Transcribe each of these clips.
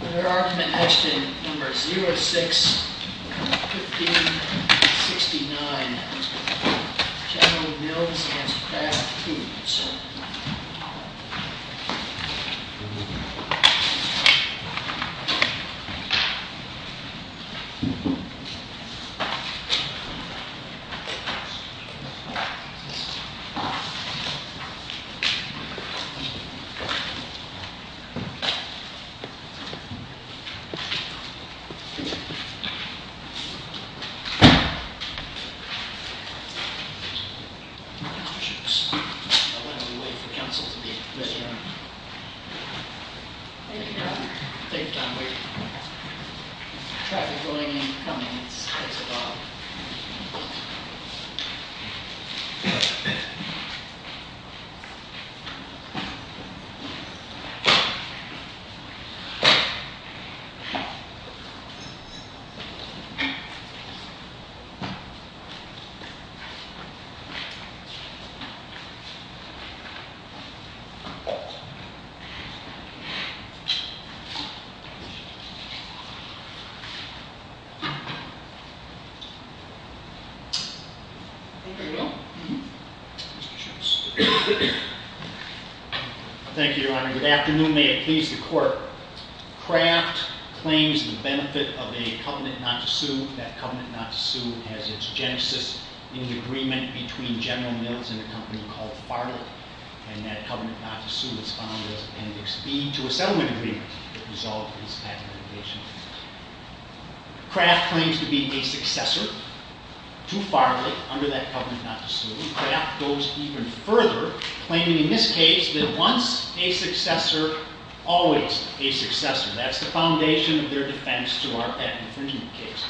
There are some in question, number 06, 15, 69. Channeling Mills against Kraft Foods. I won't have to wait for Council to be ready now. Thank you. Thank you. Thank you. Thank you. Thank you. Thank you, Your Honor. Good afternoon. May it please the Court. Kraft claims the benefit of a covenant not to sue. That covenant not to sue has its genesis in the agreement between General Mills and a company called Fartel. And that covenant not to sue is found as appendix B to a settlement agreement that resolved this patent litigation. Kraft claims to be a successor to Fartel under that covenant not to sue. Kraft goes even further, claiming in this case that once a successor, always a successor. That's the foundation of their defense to our patent infringement case.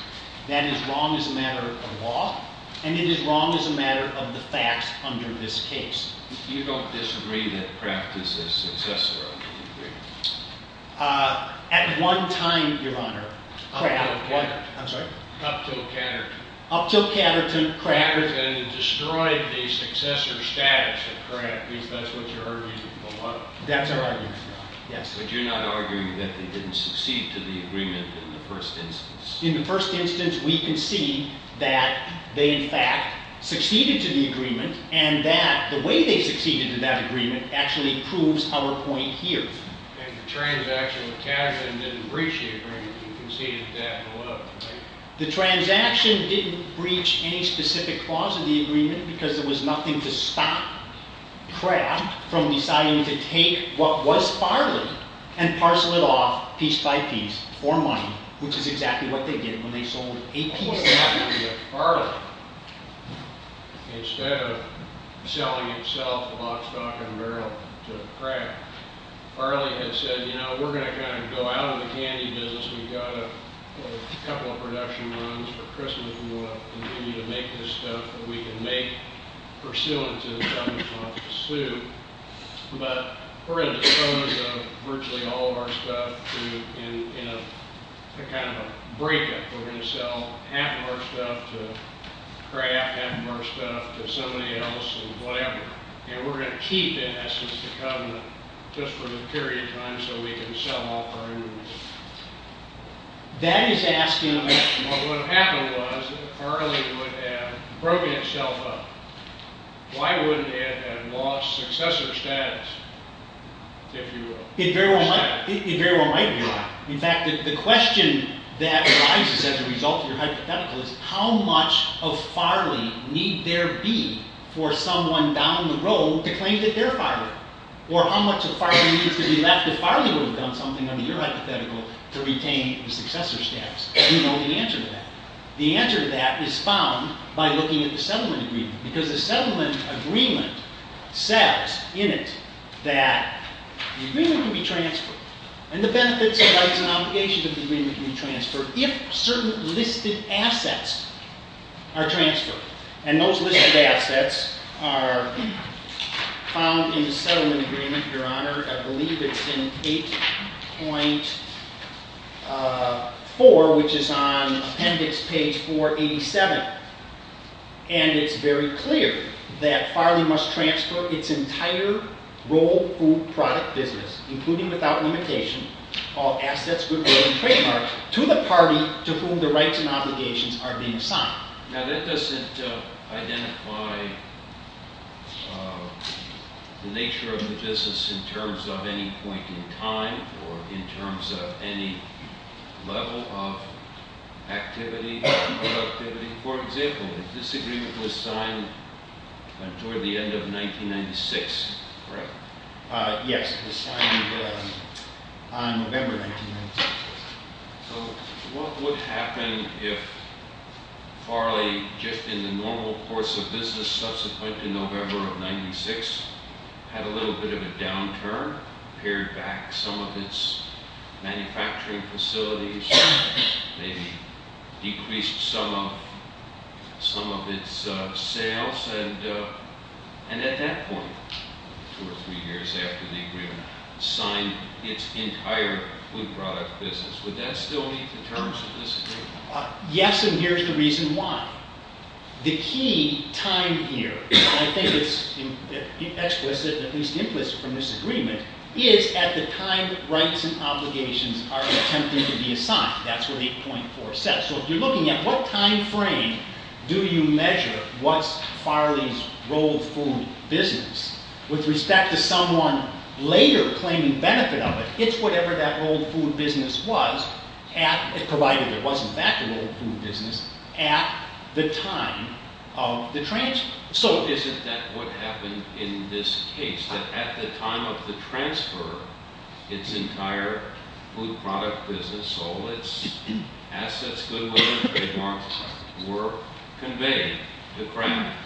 That is wrong as a matter of law, and it is wrong as a matter of the facts under this case. You don't disagree that Kraft is a successor under the agreement? At one time, Your Honor. Up till what? I'm sorry? Up till Catterton. Up till Catterton, Kraft. Catterton destroyed the successor status of Kraft, because that's what you're arguing for. That's our argument for, yes. But you're not arguing that they didn't succeed to the agreement in the first instance? In the first instance, we can see that they, in fact, succeeded to the agreement, and that the way they succeeded to that agreement actually proves our point here. And the transaction with Catterton didn't breach the agreement. We can see that below, right? The transaction didn't breach any specific clause of the agreement, because there was nothing to stop Kraft from deciding to take what was Farley and parcel it off piece by piece for money, which is exactly what they did when they sold a piece to Kraft. Farley, instead of selling itself, lock, stock, and barrel to Kraft, Farley had said, you know, we're going to kind of go out of the candy business. We've got a couple of production runs for Christmas. We want to continue to make this stuff that we can make pursuant to the government's law to sue. But we're going to dispose of virtually all of our stuff in a kind of a breakup. We're going to sell half of our stuff to Kraft, half of our stuff to somebody else, and whatever. And we're going to keep, in essence, the covenant just for the period of time so we can sell off our inventory. That is asking a question. Well, what happened was that Farley would have broken itself up. Why wouldn't it have lost successor status, if you will? It very well might have. In fact, the question that arises as a result of your hypothetical is, how much of Farley need there be for someone down the road to claim that they're Farley? Or how much of Farley needs to be left if Farley would have done something under your hypothetical to retain the successor status? Do you know the answer to that? The answer to that is found by looking at the settlement agreement. Because the settlement agreement says in it that the agreement can be transferred, and the benefits and rights and obligations of the agreement can be transferred, if certain listed assets are transferred. And those listed assets are found in the settlement agreement, Your Honor. I believe it's in 8.4, which is on appendix page 487. And it's very clear that Farley must transfer its entire role, food, product, business, including without limitation, all assets, goods, goods, and trademarks, to the party to whom the rights and obligations are being assigned. Now, that doesn't identify the nature of the business in terms of any point in time or in terms of any level of activity, productivity. For example, the disagreement was signed toward the end of 1996, correct? Yes, it was signed on November 1996. So what would happen if Farley, just in the normal course of business subsequent to November of 1996, had a little bit of a downturn, pared back some of its manufacturing facilities, maybe decreased some of its sales, and at that point, two or three years after the agreement, signed its entire food, product, business. Would that still meet the terms of this agreement? Yes, and here's the reason why. The key time here, and I think it's explicit, at least implicit from this agreement, is at the time rights and obligations are attempting to be assigned. That's where the 8.4 says. So if you're looking at what time frame do you measure what's Farley's role, food, business, with respect to someone later claiming benefit of it, it's whatever that role, food, business was, provided there was in fact a role of food, business, at the time of the transfer. So isn't that what happened in this case, that at the time of the transfer, its entire food, product, business, all its assets, goods, and other trademarks were conveyed to Kraft?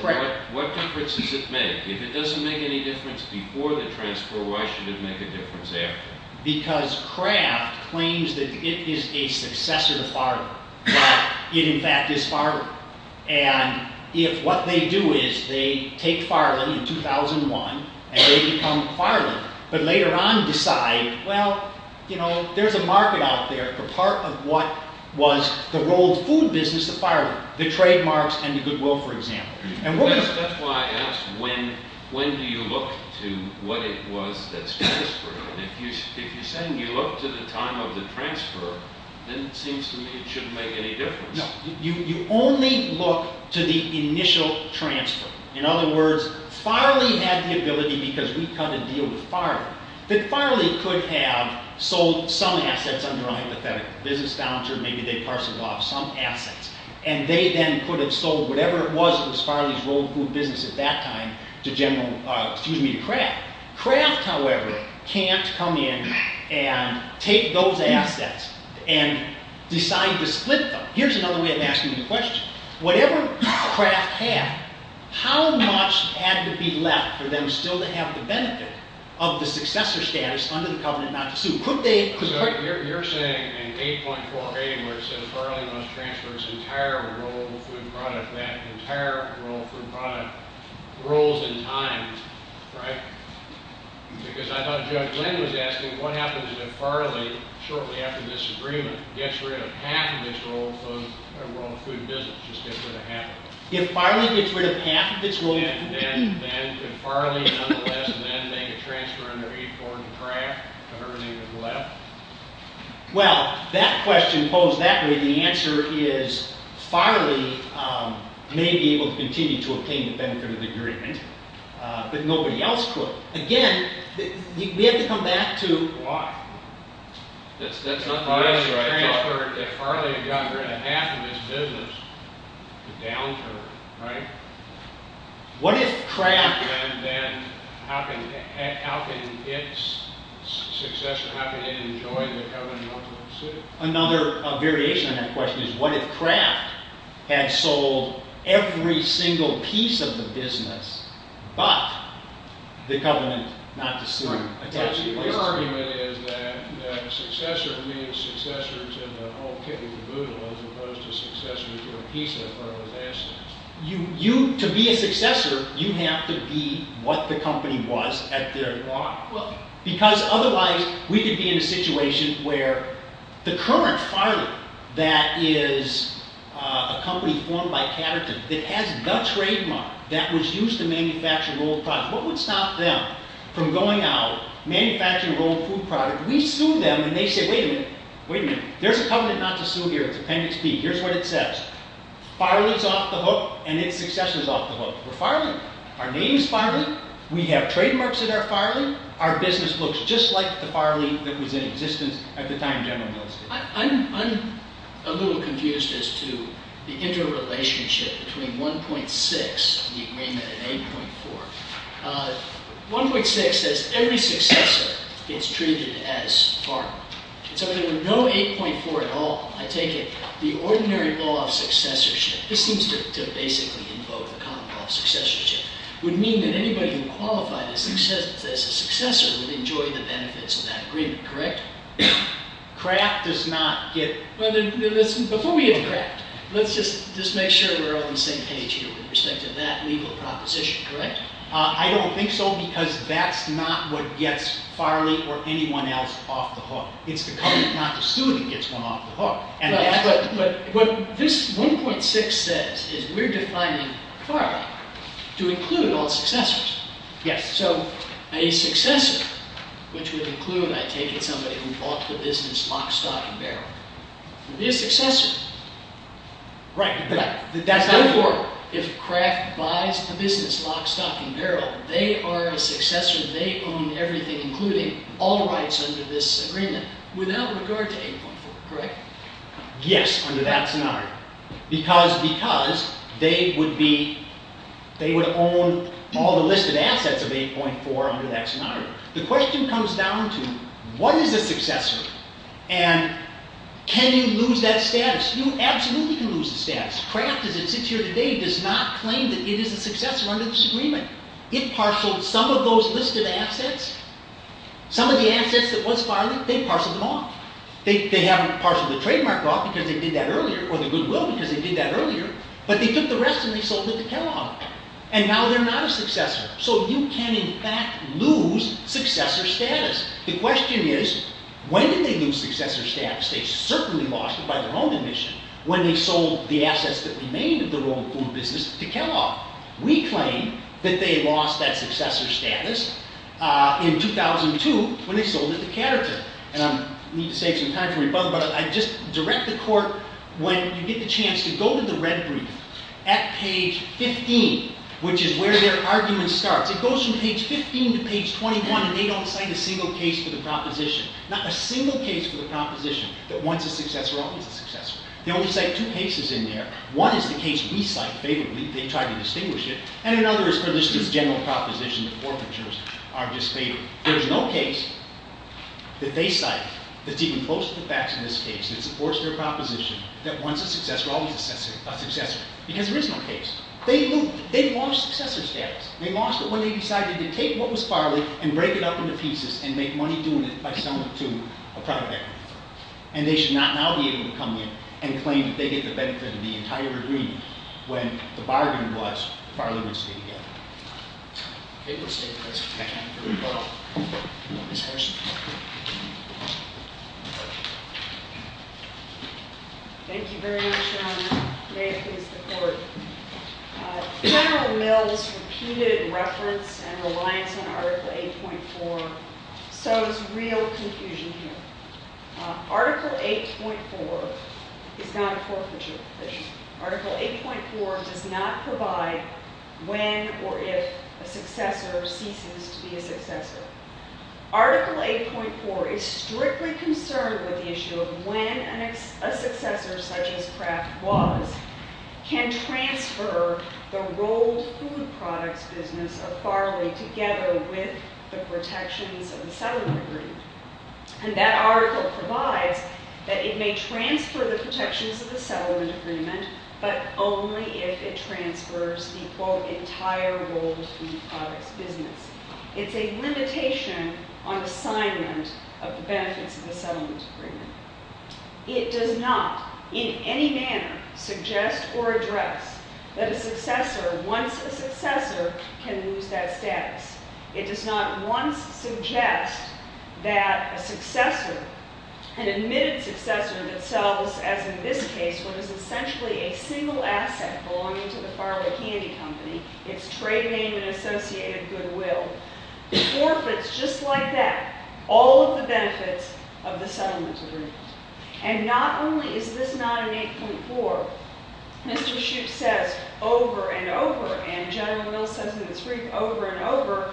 Correct. What difference does it make? If it doesn't make any difference before the transfer, why should it make a difference after? Because Kraft claims that it is a successor to Farley, but it in fact is Farley. And if what they do is they take Farley in 2001, and they become Farley, but later on decide, well, you know, there's a market out there, a part of what was the role of food, business, of Farley, the trademarks and the goodwill, for example. That's why I asked, when do you look to what it was that's transferred? If you're saying you look to the time of the transfer, then it seems to me it shouldn't make any difference. No, you only look to the initial transfer. In other words, Farley had the ability, because we cut a deal with Farley, that Farley could have sold some assets under a hypothetical business voucher, maybe they parceled off some assets, and they then could have sold whatever it was, it was Farley's role of food, business at that time, to Kraft. Kraft, however, can't come in and take those assets and decide to split them. Here's another way of asking the question. Whatever Kraft had, how much had to be left for them still to have the benefit of the successor status under the covenant not to sue? So you're saying in 8.48 where it says Farley must transfer its entire role of food product, that entire role of food product grows in time, right? Because I thought Judge Glenn was asking, what happens if Farley, shortly after this agreement, gets rid of half of its role of food business, just gets rid of half of it? If Farley gets rid of half of its role of food business, then could Farley nonetheless then make a transfer under 8.48 to Kraft, of everything that's left? Well, that question posed that way. The answer is Farley may be able to continue to obtain the benefit of the agreement, but nobody else could. Again, we have to come back to why. That's not the answer I thought. If Farley got rid of half of its business, the downturn, right? What if Kraft... Then how can its successor, how can it enjoy the covenant not to sue? Another variation on that question is, what if Kraft had sold every single piece of the business, but the covenant not to sue? Your argument is that successor means successor to the whole kit and the boodle, as opposed to successor to a piece of the firm. To be a successor, you have to be what the company was at their lot. Because otherwise, we could be in a situation where the current Farley, that is a company formed by Catterton, that has the trademark that was used to manufacture rolled product, what would stop them from going out, manufacturing rolled food product? We sue them, and they say, wait a minute, wait a minute. There's a covenant not to sue here. It's Appendix B. Here's what it says. Farley's off the hook, and its successor's off the hook. We're Farley. Our name's Farley. We have trademarks that are Farley. Our business looks just like the Farley that was in existence at the time General Mills did. I'm a little confused as to the interrelationship between 1.6, the agreement, and 8.4. 1.6 says every successor gets treated as Farley. So there were no 8.4 at all, I take it. The ordinary law of successorship, this seems to basically invoke the common law of successorship, would mean that anybody who qualified as a successor would enjoy the benefits of that agreement, correct? Kraft does not get... Before we hit Kraft, let's just make sure we're all on the same page here with respect to that legal proposition, correct? I don't think so, because that's not what gets Farley or anyone else off the hook. It's the covenant not to sue that gets one off the hook. What this 1.6 says is we're defining Farley to include all successors. Yes. So a successor, which would include, I take it, somebody who bought the business lock, stock, and barrel, would be a successor. Right. Therefore, if Kraft buys the business lock, stock, and barrel, they are a successor, they own everything, including all rights under this agreement, without regard to 8.4, correct? Yes, under that scenario. Because they would own all the listed assets of 8.4 under that scenario. The question comes down to, what is a successor? And can you lose that status? You absolutely can lose the status. Kraft, as it sits here today, does not claim that it is a successor under this agreement. It parceled some of those listed assets, some of the assets that was Farley, they parceled them off. They haven't parceled the trademark off because they did that earlier, or the goodwill because they did that earlier, but they took the rest and they sold it to Kellogg. And now they're not a successor. So you can, in fact, lose successor status. The question is, when did they lose successor status? They certainly lost it by their own admission when they sold the assets that remained of their own food business to Kellogg. We claim that they lost that successor status in 2002 when they sold it to Catterton. And I need to save some time for rebuttal, but I just direct the court, when you get the chance to go to the red brief, at page 15, which is where their argument starts. It goes from page 15 to page 21, and they don't cite a single case for the proposition. Not a single case for the proposition that once a successor, always a successor. They only cite two cases in there. One is the case we cite favorably. They try to distinguish it. And another is for this general proposition that forfeitures are disfavored. There's no case that they cite that's even close to the facts in this case that supports their proposition that once a successor, always a successor. Because there is no case. They lost successor status. They lost it when they decided to take what was borrowed and break it up into pieces and make money doing it by selling it to a private equity firm. And they should not now be able to come in and claim that they get the benefit of the entire agreement when the bargain was, Farley would stay together. Okay. We'll stay in this. Okay. Ms. Herseth. Thank you very much, Your Honor. May it please the court. General Mills' repeated reference and reliance on Article 8.4 sows real confusion here. Article 8.4 is not a forfeiture provision. Article 8.4 does not provide when or if a successor ceases to be a successor. Article 8.4 is strictly concerned with the issue of when a successor such as Kraft was can transfer the rolled food products business of Farley together with the protections of the settlement agreement. And that article provides that it may transfer the protections of the settlement agreement but only if it transfers the, quote, entire rolled food products business. It's a limitation on assignment of the benefits of the settlement agreement. It does not in any manner suggest or address that a successor, once a successor, can lose that status. It does not once suggest that a successor, an admitted successor, that sells, as in this case, what is essentially a single asset belonging to the Farley Candy Company, its trade name and associated goodwill, forfeits just like that all of the benefits of the settlement agreement. And not only is this not in 8.4, Mr. Schuch says over and over, and General Mills says in his brief over and over,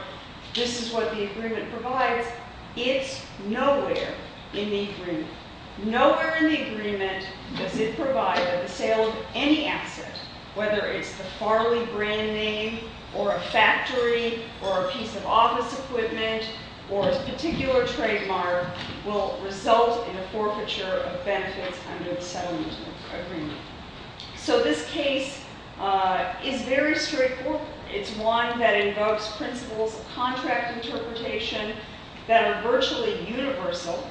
this is what the agreement provides. It's nowhere in the agreement. Nowhere in the agreement does it provide that the sale of any asset, whether it's the Farley brand name or a factory or a piece of office equipment or a particular trademark, will result in a forfeiture of benefits under the settlement agreement. So this case is very straightforward. It's one that invokes principles of contract interpretation that are virtually universal.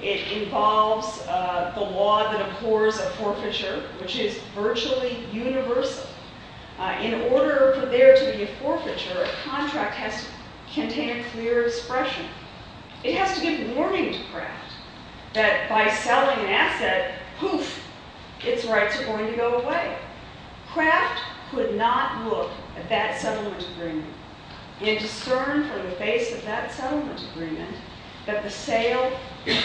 It involves the law that accords a forfeiture, which is virtually universal. In order for there to be a forfeiture, a contract has to contain a clear expression. It has to give warning to Kraft that by selling an asset, poof, its rights are going to go away. Kraft could not look at that settlement agreement and discern from the base of that settlement agreement that the sale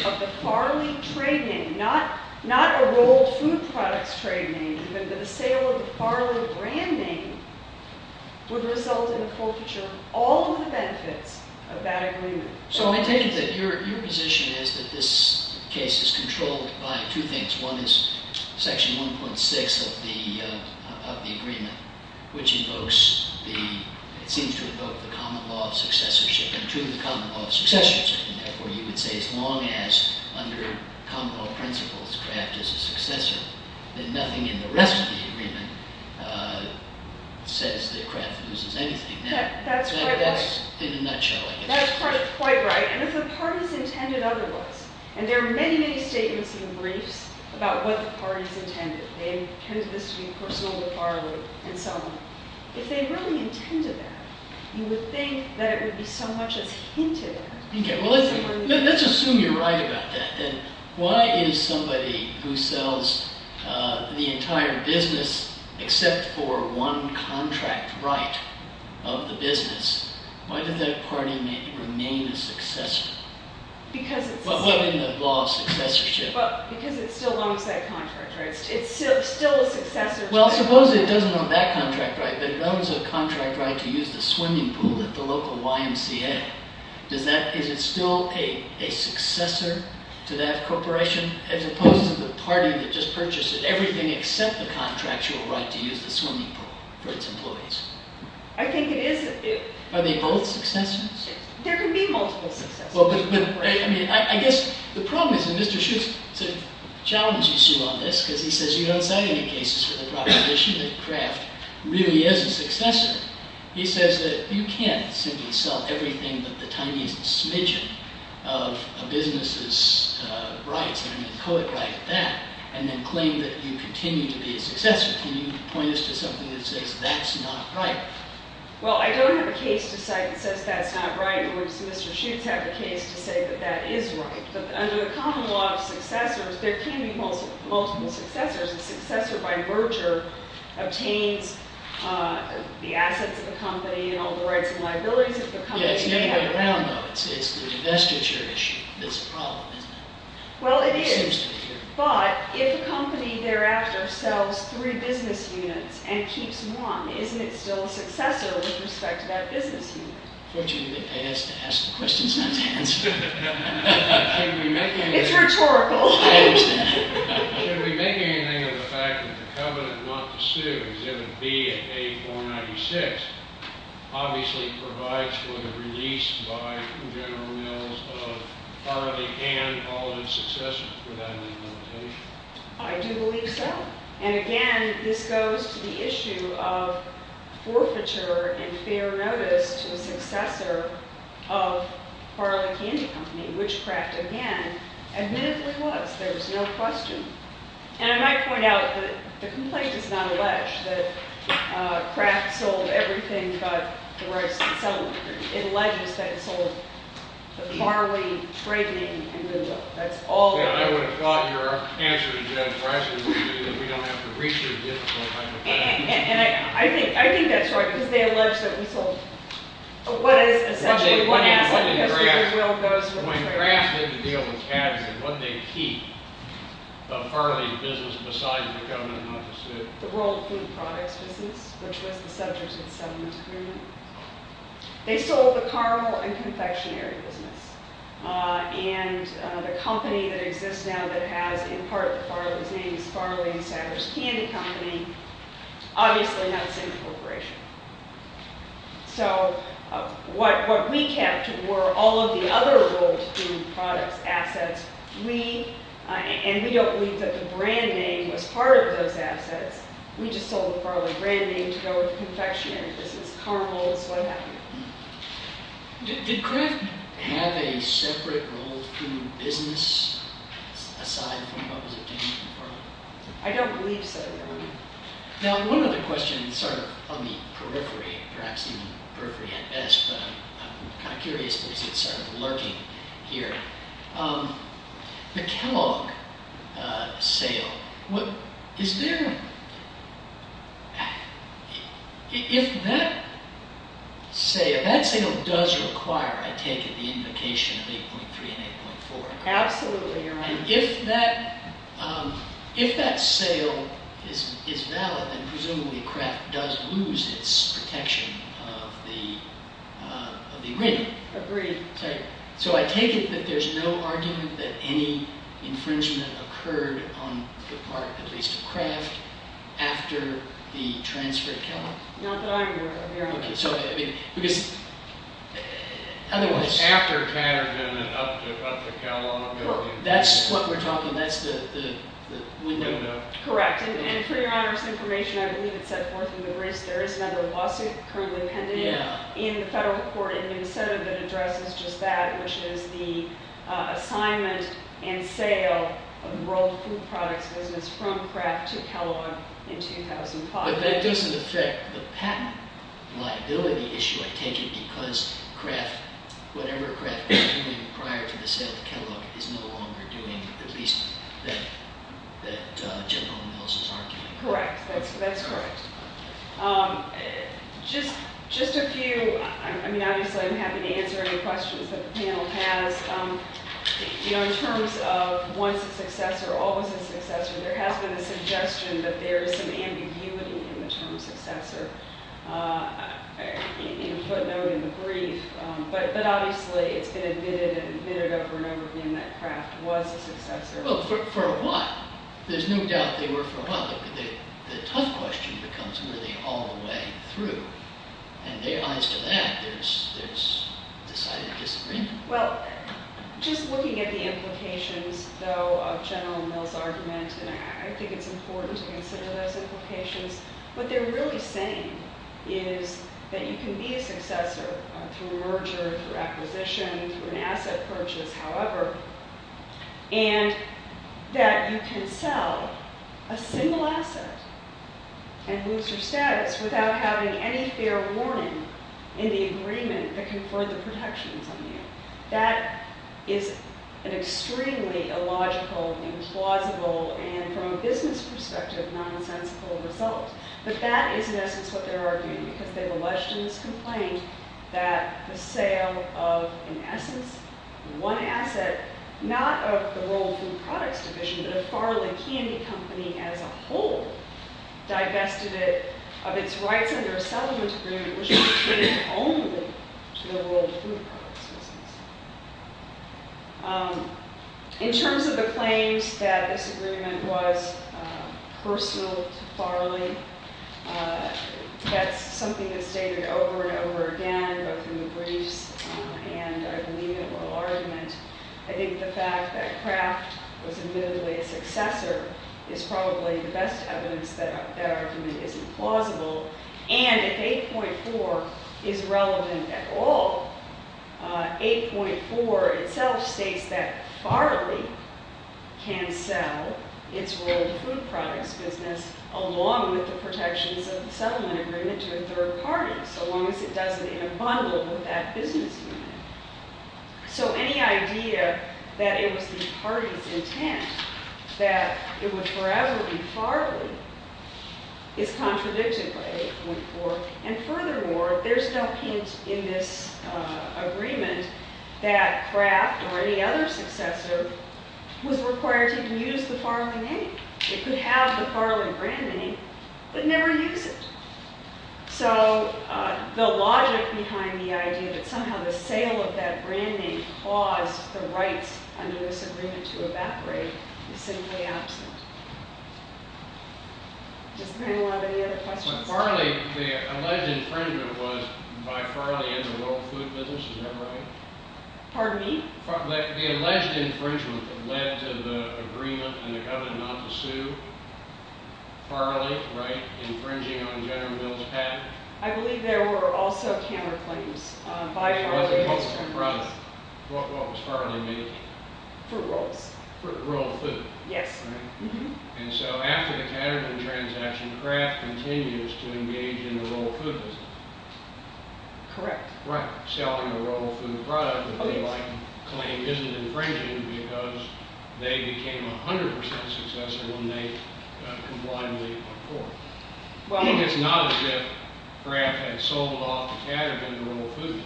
of the Farley trade name, not a rolled food products trade name, but the sale of the Farley brand name, would result in a forfeiture of all of the benefits of that agreement. So I take it that your position is that this case is controlled by two things. One is Section 1.6 of the agreement, which invokes the – it seems to invoke the common law of successorship and to the common law of successorship. And therefore, you would say as long as under common law principles, Kraft is a successor, that nothing in the rest of the agreement says that Kraft loses anything. That's quite right. So that's in a nutshell, I guess. That's quite right. And if the parties intended otherwise, and there are many, many statements and briefs about what the parties intended, they intended this to be personal with Farley and so on. If they really intended that, you would think that it would be so much as hinted at. Let's assume you're right about that. Why is somebody who sells the entire business except for one contract right of the business, why does that party remain a successor? What in the law of successorship? Because it still owns that contract right. It's still a successor. Well, suppose it doesn't own that contract right, but it owns a contract right to use the swimming pool at the local YMCA. Is it still a successor to that corporation, as opposed to the party that just purchased it, everything except the contractual right to use the swimming pool for its employees? I think it is a few. Are they both successors? There can be multiple successors. I guess the problem is that Mr. Schutz sort of challenges you on this, because he says you don't cite any cases for the proposition that Kraft really is a successor. He says that you can't simply sell everything but the tiniest smidgen of a business's rights, and then quote right that, and then claim that you continue to be a successor. Can you point us to something that says that's not right? Well, I don't have a case to cite that says that's not right. Mr. Schutz has a case to say that that is right. But under the common law of successors, there can be multiple successors. A successor by merger obtains the assets of the company and all the rights and liabilities of the company. Yeah, it's the other way around, though. It's the investiture issue that's the problem, isn't it? Well, it is. It seems to be. But if a company thereafter sells three business units and keeps one, isn't it still a successor with respect to that business unit? Unfortunately, I have to ask the questions not to answer. It's rhetorical. I understand. Should we make anything of the fact that the covenant not to sue, Exhibit B at page 496, obviously provides for the release by General Mills of Harley and all of its successors for that implementation? I do believe so. And, again, this goes to the issue of forfeiture and fair notice to a successor of Harley Candy Company, which Kraft, again, admittedly was. There was no question. And I might point out that the complaint does not allege that Kraft sold everything but the rights to sell it. It alleges that it sold the Harley, Brady, and Goodwill. That's all there is. Yeah, I would have thought your answer to that question would be that we don't have to reach a difficult time with that. And I think that's right, because they allege that we sold what is essentially one asset When Kraft had to deal with Katz and what they keep of Harley's business besides the covenant not to sue? The World Food Products business, which was the subject of the settlement agreement. They sold the caramel and confectionery business. And the company that exists now that has, in part, Harley's name is Harley and Saddler's Candy Company, obviously not the same corporation. So what we kept were all of the other World Food Products assets. And we don't believe that the brand name was part of those assets. We just sold the Harley brand name to go with the confectionery business, caramels, what have you. Did Kraft have a separate World Food business aside from what was obtained from Harley? I don't believe so, no. Now one other question, sort of on the periphery, perhaps even the periphery at best, but I'm kind of curious because it's sort of lurking here. The Kellogg sale, is there... If that sale, that sale does require, I take it, the invocation of 8.3 and 8.4. Absolutely, you're right. And if that sale is valid, then presumably Kraft does lose its protection of the ring. Agreed. So I take it that there's no argument that any infringement occurred on the part, at least of Kraft, after the transfer at Kellogg? Not that I'm aware of. Because... Otherwise... After Patterson and up to Kellogg. That's what we're talking, that's the window. Correct, and for your Honor's information, I believe it's set forth in the wrist, there is another lawsuit currently pending in the federal court in Minnesota that addresses just that, which is the assignment and sale of the World Food Products business from Kraft to Kellogg in 2005. But that doesn't affect the patent liability issue, I take it, because Kraft, whatever Kraft was doing prior to the sale to Kellogg, is no longer doing, at least that General Mills is arguing. Correct, that's correct. Just a few... I mean, obviously I'm happy to answer any questions that the panel has. always a successor, there has been a suggestion that there is some ambiguity in the term successor. A footnote in the brief, but obviously it's been admitted and admitted over and over again that Kraft was a successor. Well, for a while. There's no doubt they were for a while, but the tough question becomes really all the way through. And they answer that, there's decided disagreement. Well, just looking at the implications, though, of General Mills' argument, and I think it's important to consider those implications, what they're really saying is that you can be a successor through a merger, through acquisition, through an asset purchase, however, and that you can sell a single asset and lose your status without having any fair warning in the agreement that conferred the protections on you. That is an extremely illogical and plausible and, from a business perspective, nonsensical result. But that is, in essence, what they're arguing because they've alleged in this complaint that the sale of, in essence, one asset, not of the World Food Products Division, but of Farley Candy Company as a whole, divested it of its rights under a settlement agreement which was committed only to the World Food Products business. In terms of the claims that this agreement was personal to Farley, that's something that's stated over and over again both in the briefs and, I believe, in oral argument. I think the fact that Kraft was admittedly a successor is probably the best evidence that that argument isn't plausible and, if 8.4 is relevant at all, 8.4 itself states that Farley can sell its World Food Products business along with the protections of the settlement agreement to a third party so long as it does it in a bundle with that business unit. So any idea that it was the party's intent that it would forever be Farley is contradicted by 8.4 and, furthermore, there's no hint in this agreement that Kraft or any other successor was required to even use the Farley name. It could have the Farley brand name but never use it. So the logic behind the idea that somehow the sale of that brand name caused the rights under this agreement to evaporate is simply absent. Does the panel have any other questions? So Farley, the alleged infringement was by Farley and the World Food Business, is that right? Pardon me? The alleged infringement that led to the agreement and the government not to sue Farley, infringing on General Mills' patent. I believe there were also counterclaims by Farley and its competitors. What was Farley made of? Fruit rolls. Fruit roll food. Yes. And so after the Ketterman transaction, Kraft continues to engage in the World Food Business. Correct. Right. Selling the World Food product, which they claim isn't infringing because they became 100% successor when they complied with the accord. I think it's not as if Kraft had sold off Ketterman to World Food Business.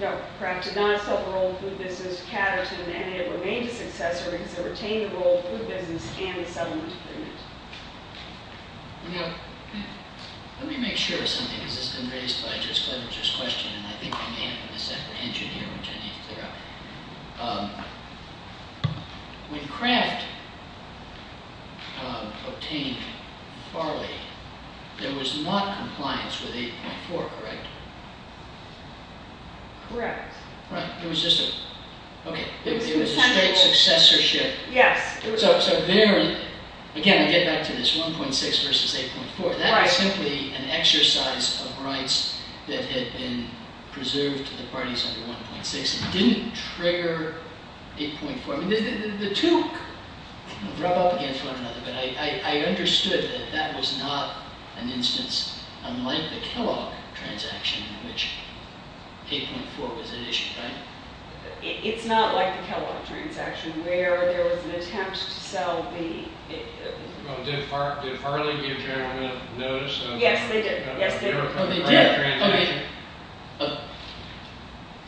No. Kraft did not sell World Food Business to Ketterman and it remained a successor because it retained the World Food Business and the settlement agreement. Now, let me make sure of something because this has been raised by Judge Fletcher's question and I think we may have a misapprehension here which I need to clear up. When Kraft obtained Farley, there was not compliance with 8.4, correct? Correct. Right. It was a straight successorship. Yes. Again, I get back to this 1.6 versus 8.4. That was simply an exercise of rights that had been preserved to the parties under 1.6 and didn't trigger 8.4. The two rub up against one another but I understood that that was not an instance unlike the Kellogg transaction in which 8.4 was at issue, right? It's not like the Kellogg transaction where there was an attempt to sell the... Well, did Farley give Ketterman a notice of... Yes, they did. Oh, they did?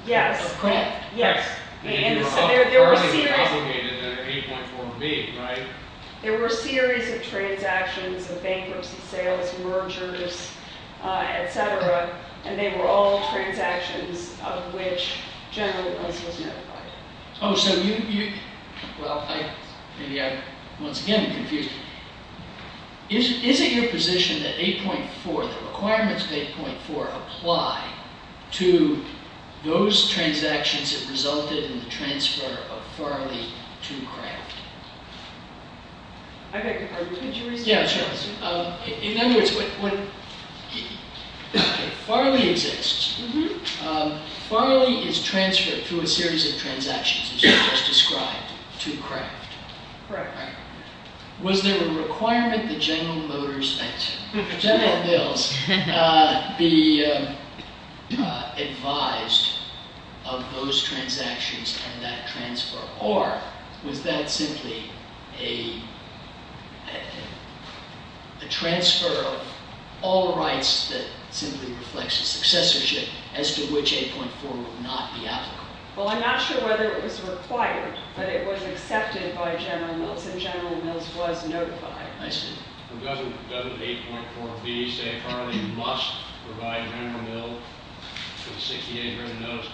Yes. Of Kraft? Yes. Farley was obligated under 8.4b, right? There were a series of transactions, of bankruptcy sales, mergers, etc. and they were all transactions of which General Mills was notified. Oh, so you... Well, maybe I once again confused you. Is it your position that 8.4, the requirements of 8.4 apply to those transactions that resulted in the transfer of Farley to Kraft? I beg your pardon? Could you repeat the question? Yes, sure. In other words, what... Farley exists. Farley is transferred through a series of transactions as you just described to Kraft. Correct. Was there a requirement that General Motors... General Mills be advised of those transactions and that transfer? Or was that simply a transfer of all rights that simply reflects a successorship as to which 8.4 would not be applicable? Well, I'm not sure whether it was required, but it was accepted by General Mills and General Mills was notified. I see. Doesn't 8.4b say Farley must provide General Mills with a 68 written notice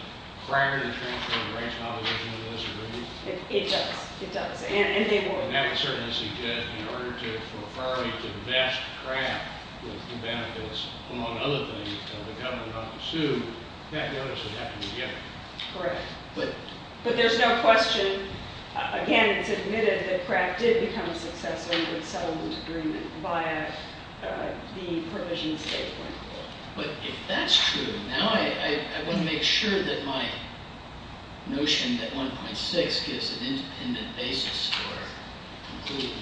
prior to the transfer of the rights and opposition to those agreements? It does. It does. And they would. And that would certainly suggest in order for Farley to invest Kraft with the benefits, among other things, of the government not to sue, that notice would have to be given. Correct. But there's no question, again, it's admitted that Kraft did become a successor of the settlement agreement via the provision of 8.4. But if that's true, now I want to make sure that my notion that 1.6 gives an independent basis for concluding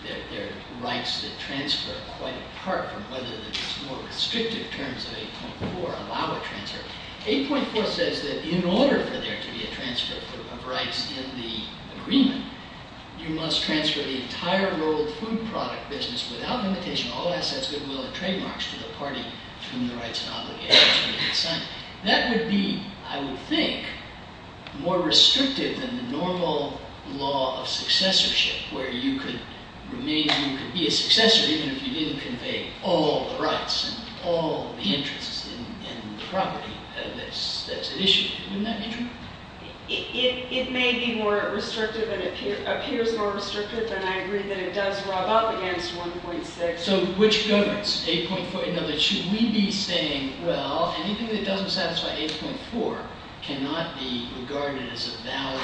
that there are rights that transfer quite apart from whether the more restrictive terms of 8.4 allow a transfer. 8.4 says that in order for there to be a transfer of rights in the agreement, you must transfer the entire world food product business without limitation, all assets, goodwill, and trademarks to the party to whom the rights and obligations would be assigned. That would be, I would think, more restrictive than the normal law of successorship where you could remain, you could be a successor even if you didn't convey all the rights and all the interests in the property that's at issue. Wouldn't that be true? It may be more restrictive, it appears more restrictive, and I agree that it does rub up against 1.6. So which governs? 8.4, in other words, should we be saying, well, anything that doesn't satisfy 8.4 cannot be regarded as a valid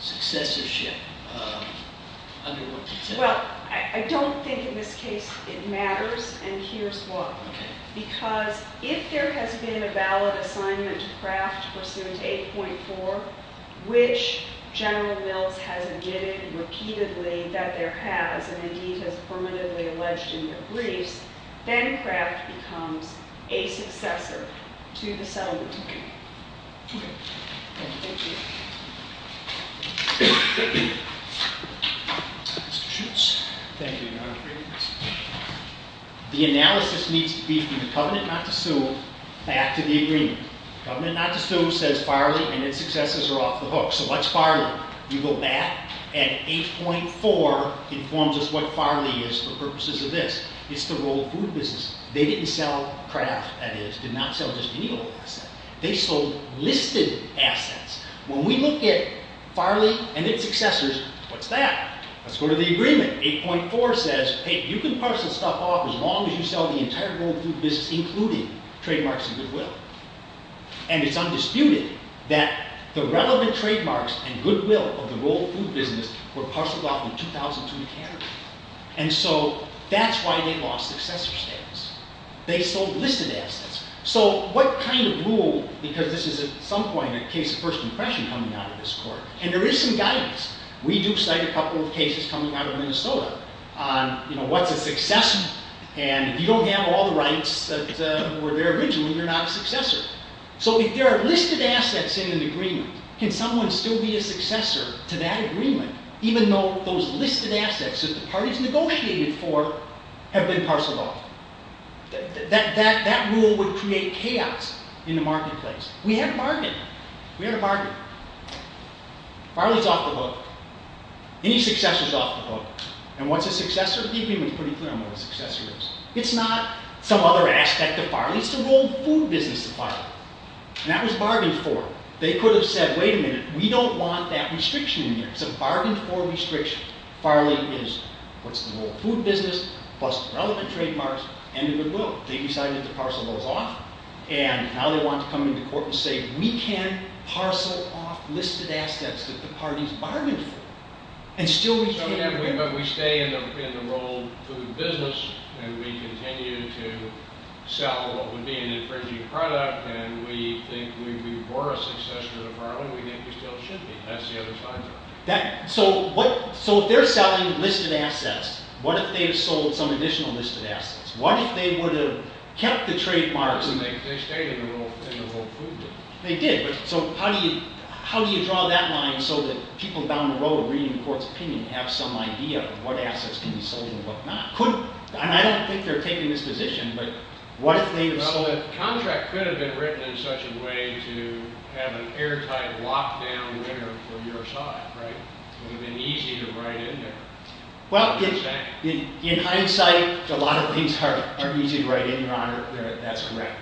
successorship under 1.6? Well, I don't think in this case it matters, and here's why. Okay. Because if there has been a valid assignment to Kraft pursuant to 8.4, which General Mills has admitted repeatedly that there has, and indeed has permanently alleged in their briefs, then Kraft becomes a successor to the settlement. Okay. Okay. Thank you. Mr. Schutz. Thank you, Your Honor. The analysis needs to be from the covenant not to sue back to the agreement. Covenant not to sue says Farley and its successors are off the hook. So what's Farley? You go back and 8.4 informs us what Farley is for purposes of this. It's the role of food businesses. They didn't sell Kraft, that is, did not sell just any of the assets. They sold listed assets. When we look at Farley and its successors, what's that? Let's go to the agreement. 8.4 says, hey, you can parcel stuff off as long as you sell the entire world food business including trademarks and goodwill. And it's undisputed that the relevant trademarks and goodwill of the world food business were parceled off in 2002. And so that's why they lost successor status. They sold listed assets. So what kind of rule, because this is at some point a case of first impression coming out of this court. And there is some guidance. We do cite a couple of cases coming out of Minnesota on what's a successor. And if you don't have all the rights that were there originally, you're not a successor. So if there are listed assets in an agreement, can someone still be a successor to that agreement even though those listed assets that the parties negotiated for have been parceled off? That rule would create chaos in the marketplace. We had a bargain. We had a bargain. Farley's off the book. Any successor's off the book. And what's a successor? The agreement's pretty clear on what a successor is. It's not some other aspect of Farley. It's the world food business of Farley. And that was bargained for. They could have said, wait a minute, we don't want that restriction in there. It's a bargained for restriction. Farley is what's the world food business plus relevant trademarks and goodwill. They decided to parcel those off. And now they want to come into court and say, we can't parcel off listed assets that the parties bargained for. And still we can't. But we stay in the world food business and we continue to sell what would be an infringing product. And we think we were a successor to Farley. We think we still should be. That's the other side of it. So if they're selling listed assets, what if they had sold some additional listed assets? What if they would have kept the trademarks? They stayed in the world food business. They did. So how do you draw that line so that people down the road reading the court's opinion have some idea of what assets can be sold and what not? And I don't think they're taking this position, but what if they have sold it? Well, the contract could have been written in such a way to have an airtight lockdown for your side. It would have been easier to write in there. Well, in hindsight, a lot of things are easy to write in, Your Honor. That's correct.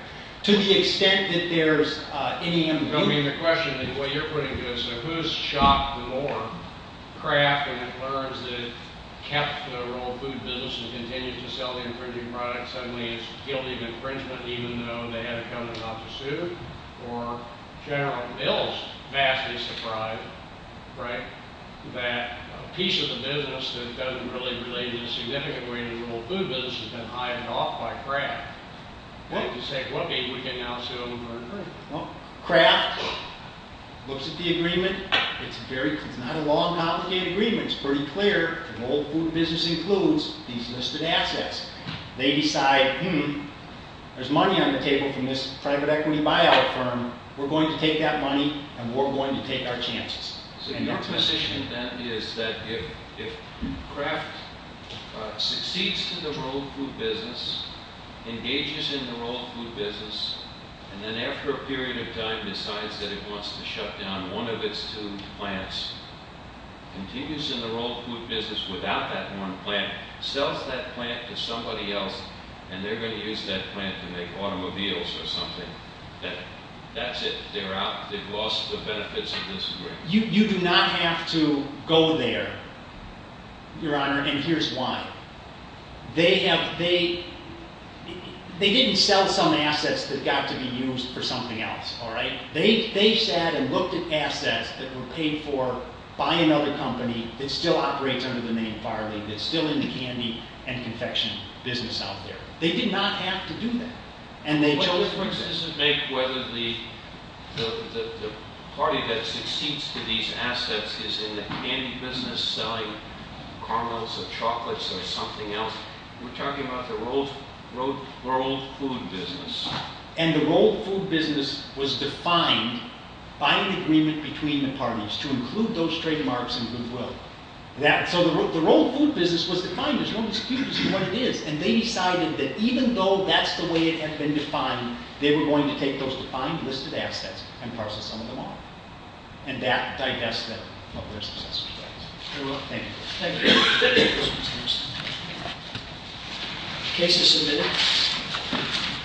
To the extent that there's any amputation. I mean, the question is what you're putting to us. So who's shocked the more? Kraft and McClure's that kept the world food business and continued to sell the infringing product. Suddenly it's guilty of infringement even though they had a covenant not to sue. Or General Mills, vastly surprised, right? That a piece of the business that doesn't really relate in a significant way to the world food business has been hired off by Kraft. Well, Kraft looks at the agreement. It's not a long, complicated agreement. It's pretty clear the world food business includes these listed assets. They decide, hmm, there's money on the table from this private equity buyout firm. We're going to take that money, and we're going to take our chances. So your position then is that if Kraft succeeds in the world food business, engages in the world food business, and then after a period of time decides that it wants to shut down one of its two plants, continues in the world food business without that one plant, sells that plant to somebody else, and they're going to use that plant to make automobiles or something, then that's it. They've lost the benefits of this agreement. You do not have to go there, Your Honor, and here's why. They didn't sell some assets that got to be used for something else, all right? They sat and looked at assets that were paid for by another company that still operates under the name Farley, that's still in the candy and confection business out there. They did not have to do that. And they chose... This doesn't make whether the party that succeeds to these assets is in the candy business selling caramels or chocolates or something else. We're talking about the world food business. And the world food business was defined by an agreement between the parties to include those trademarks in goodwill. So the world food business was defined. There's no excuse for what it is. And they decided that even though that's the way it had been defined, they were going to take those defined listed assets and parcel some of them off. And that divests them from their success. Thank you. Thank you. Thank you. Thank you. Case is submitted.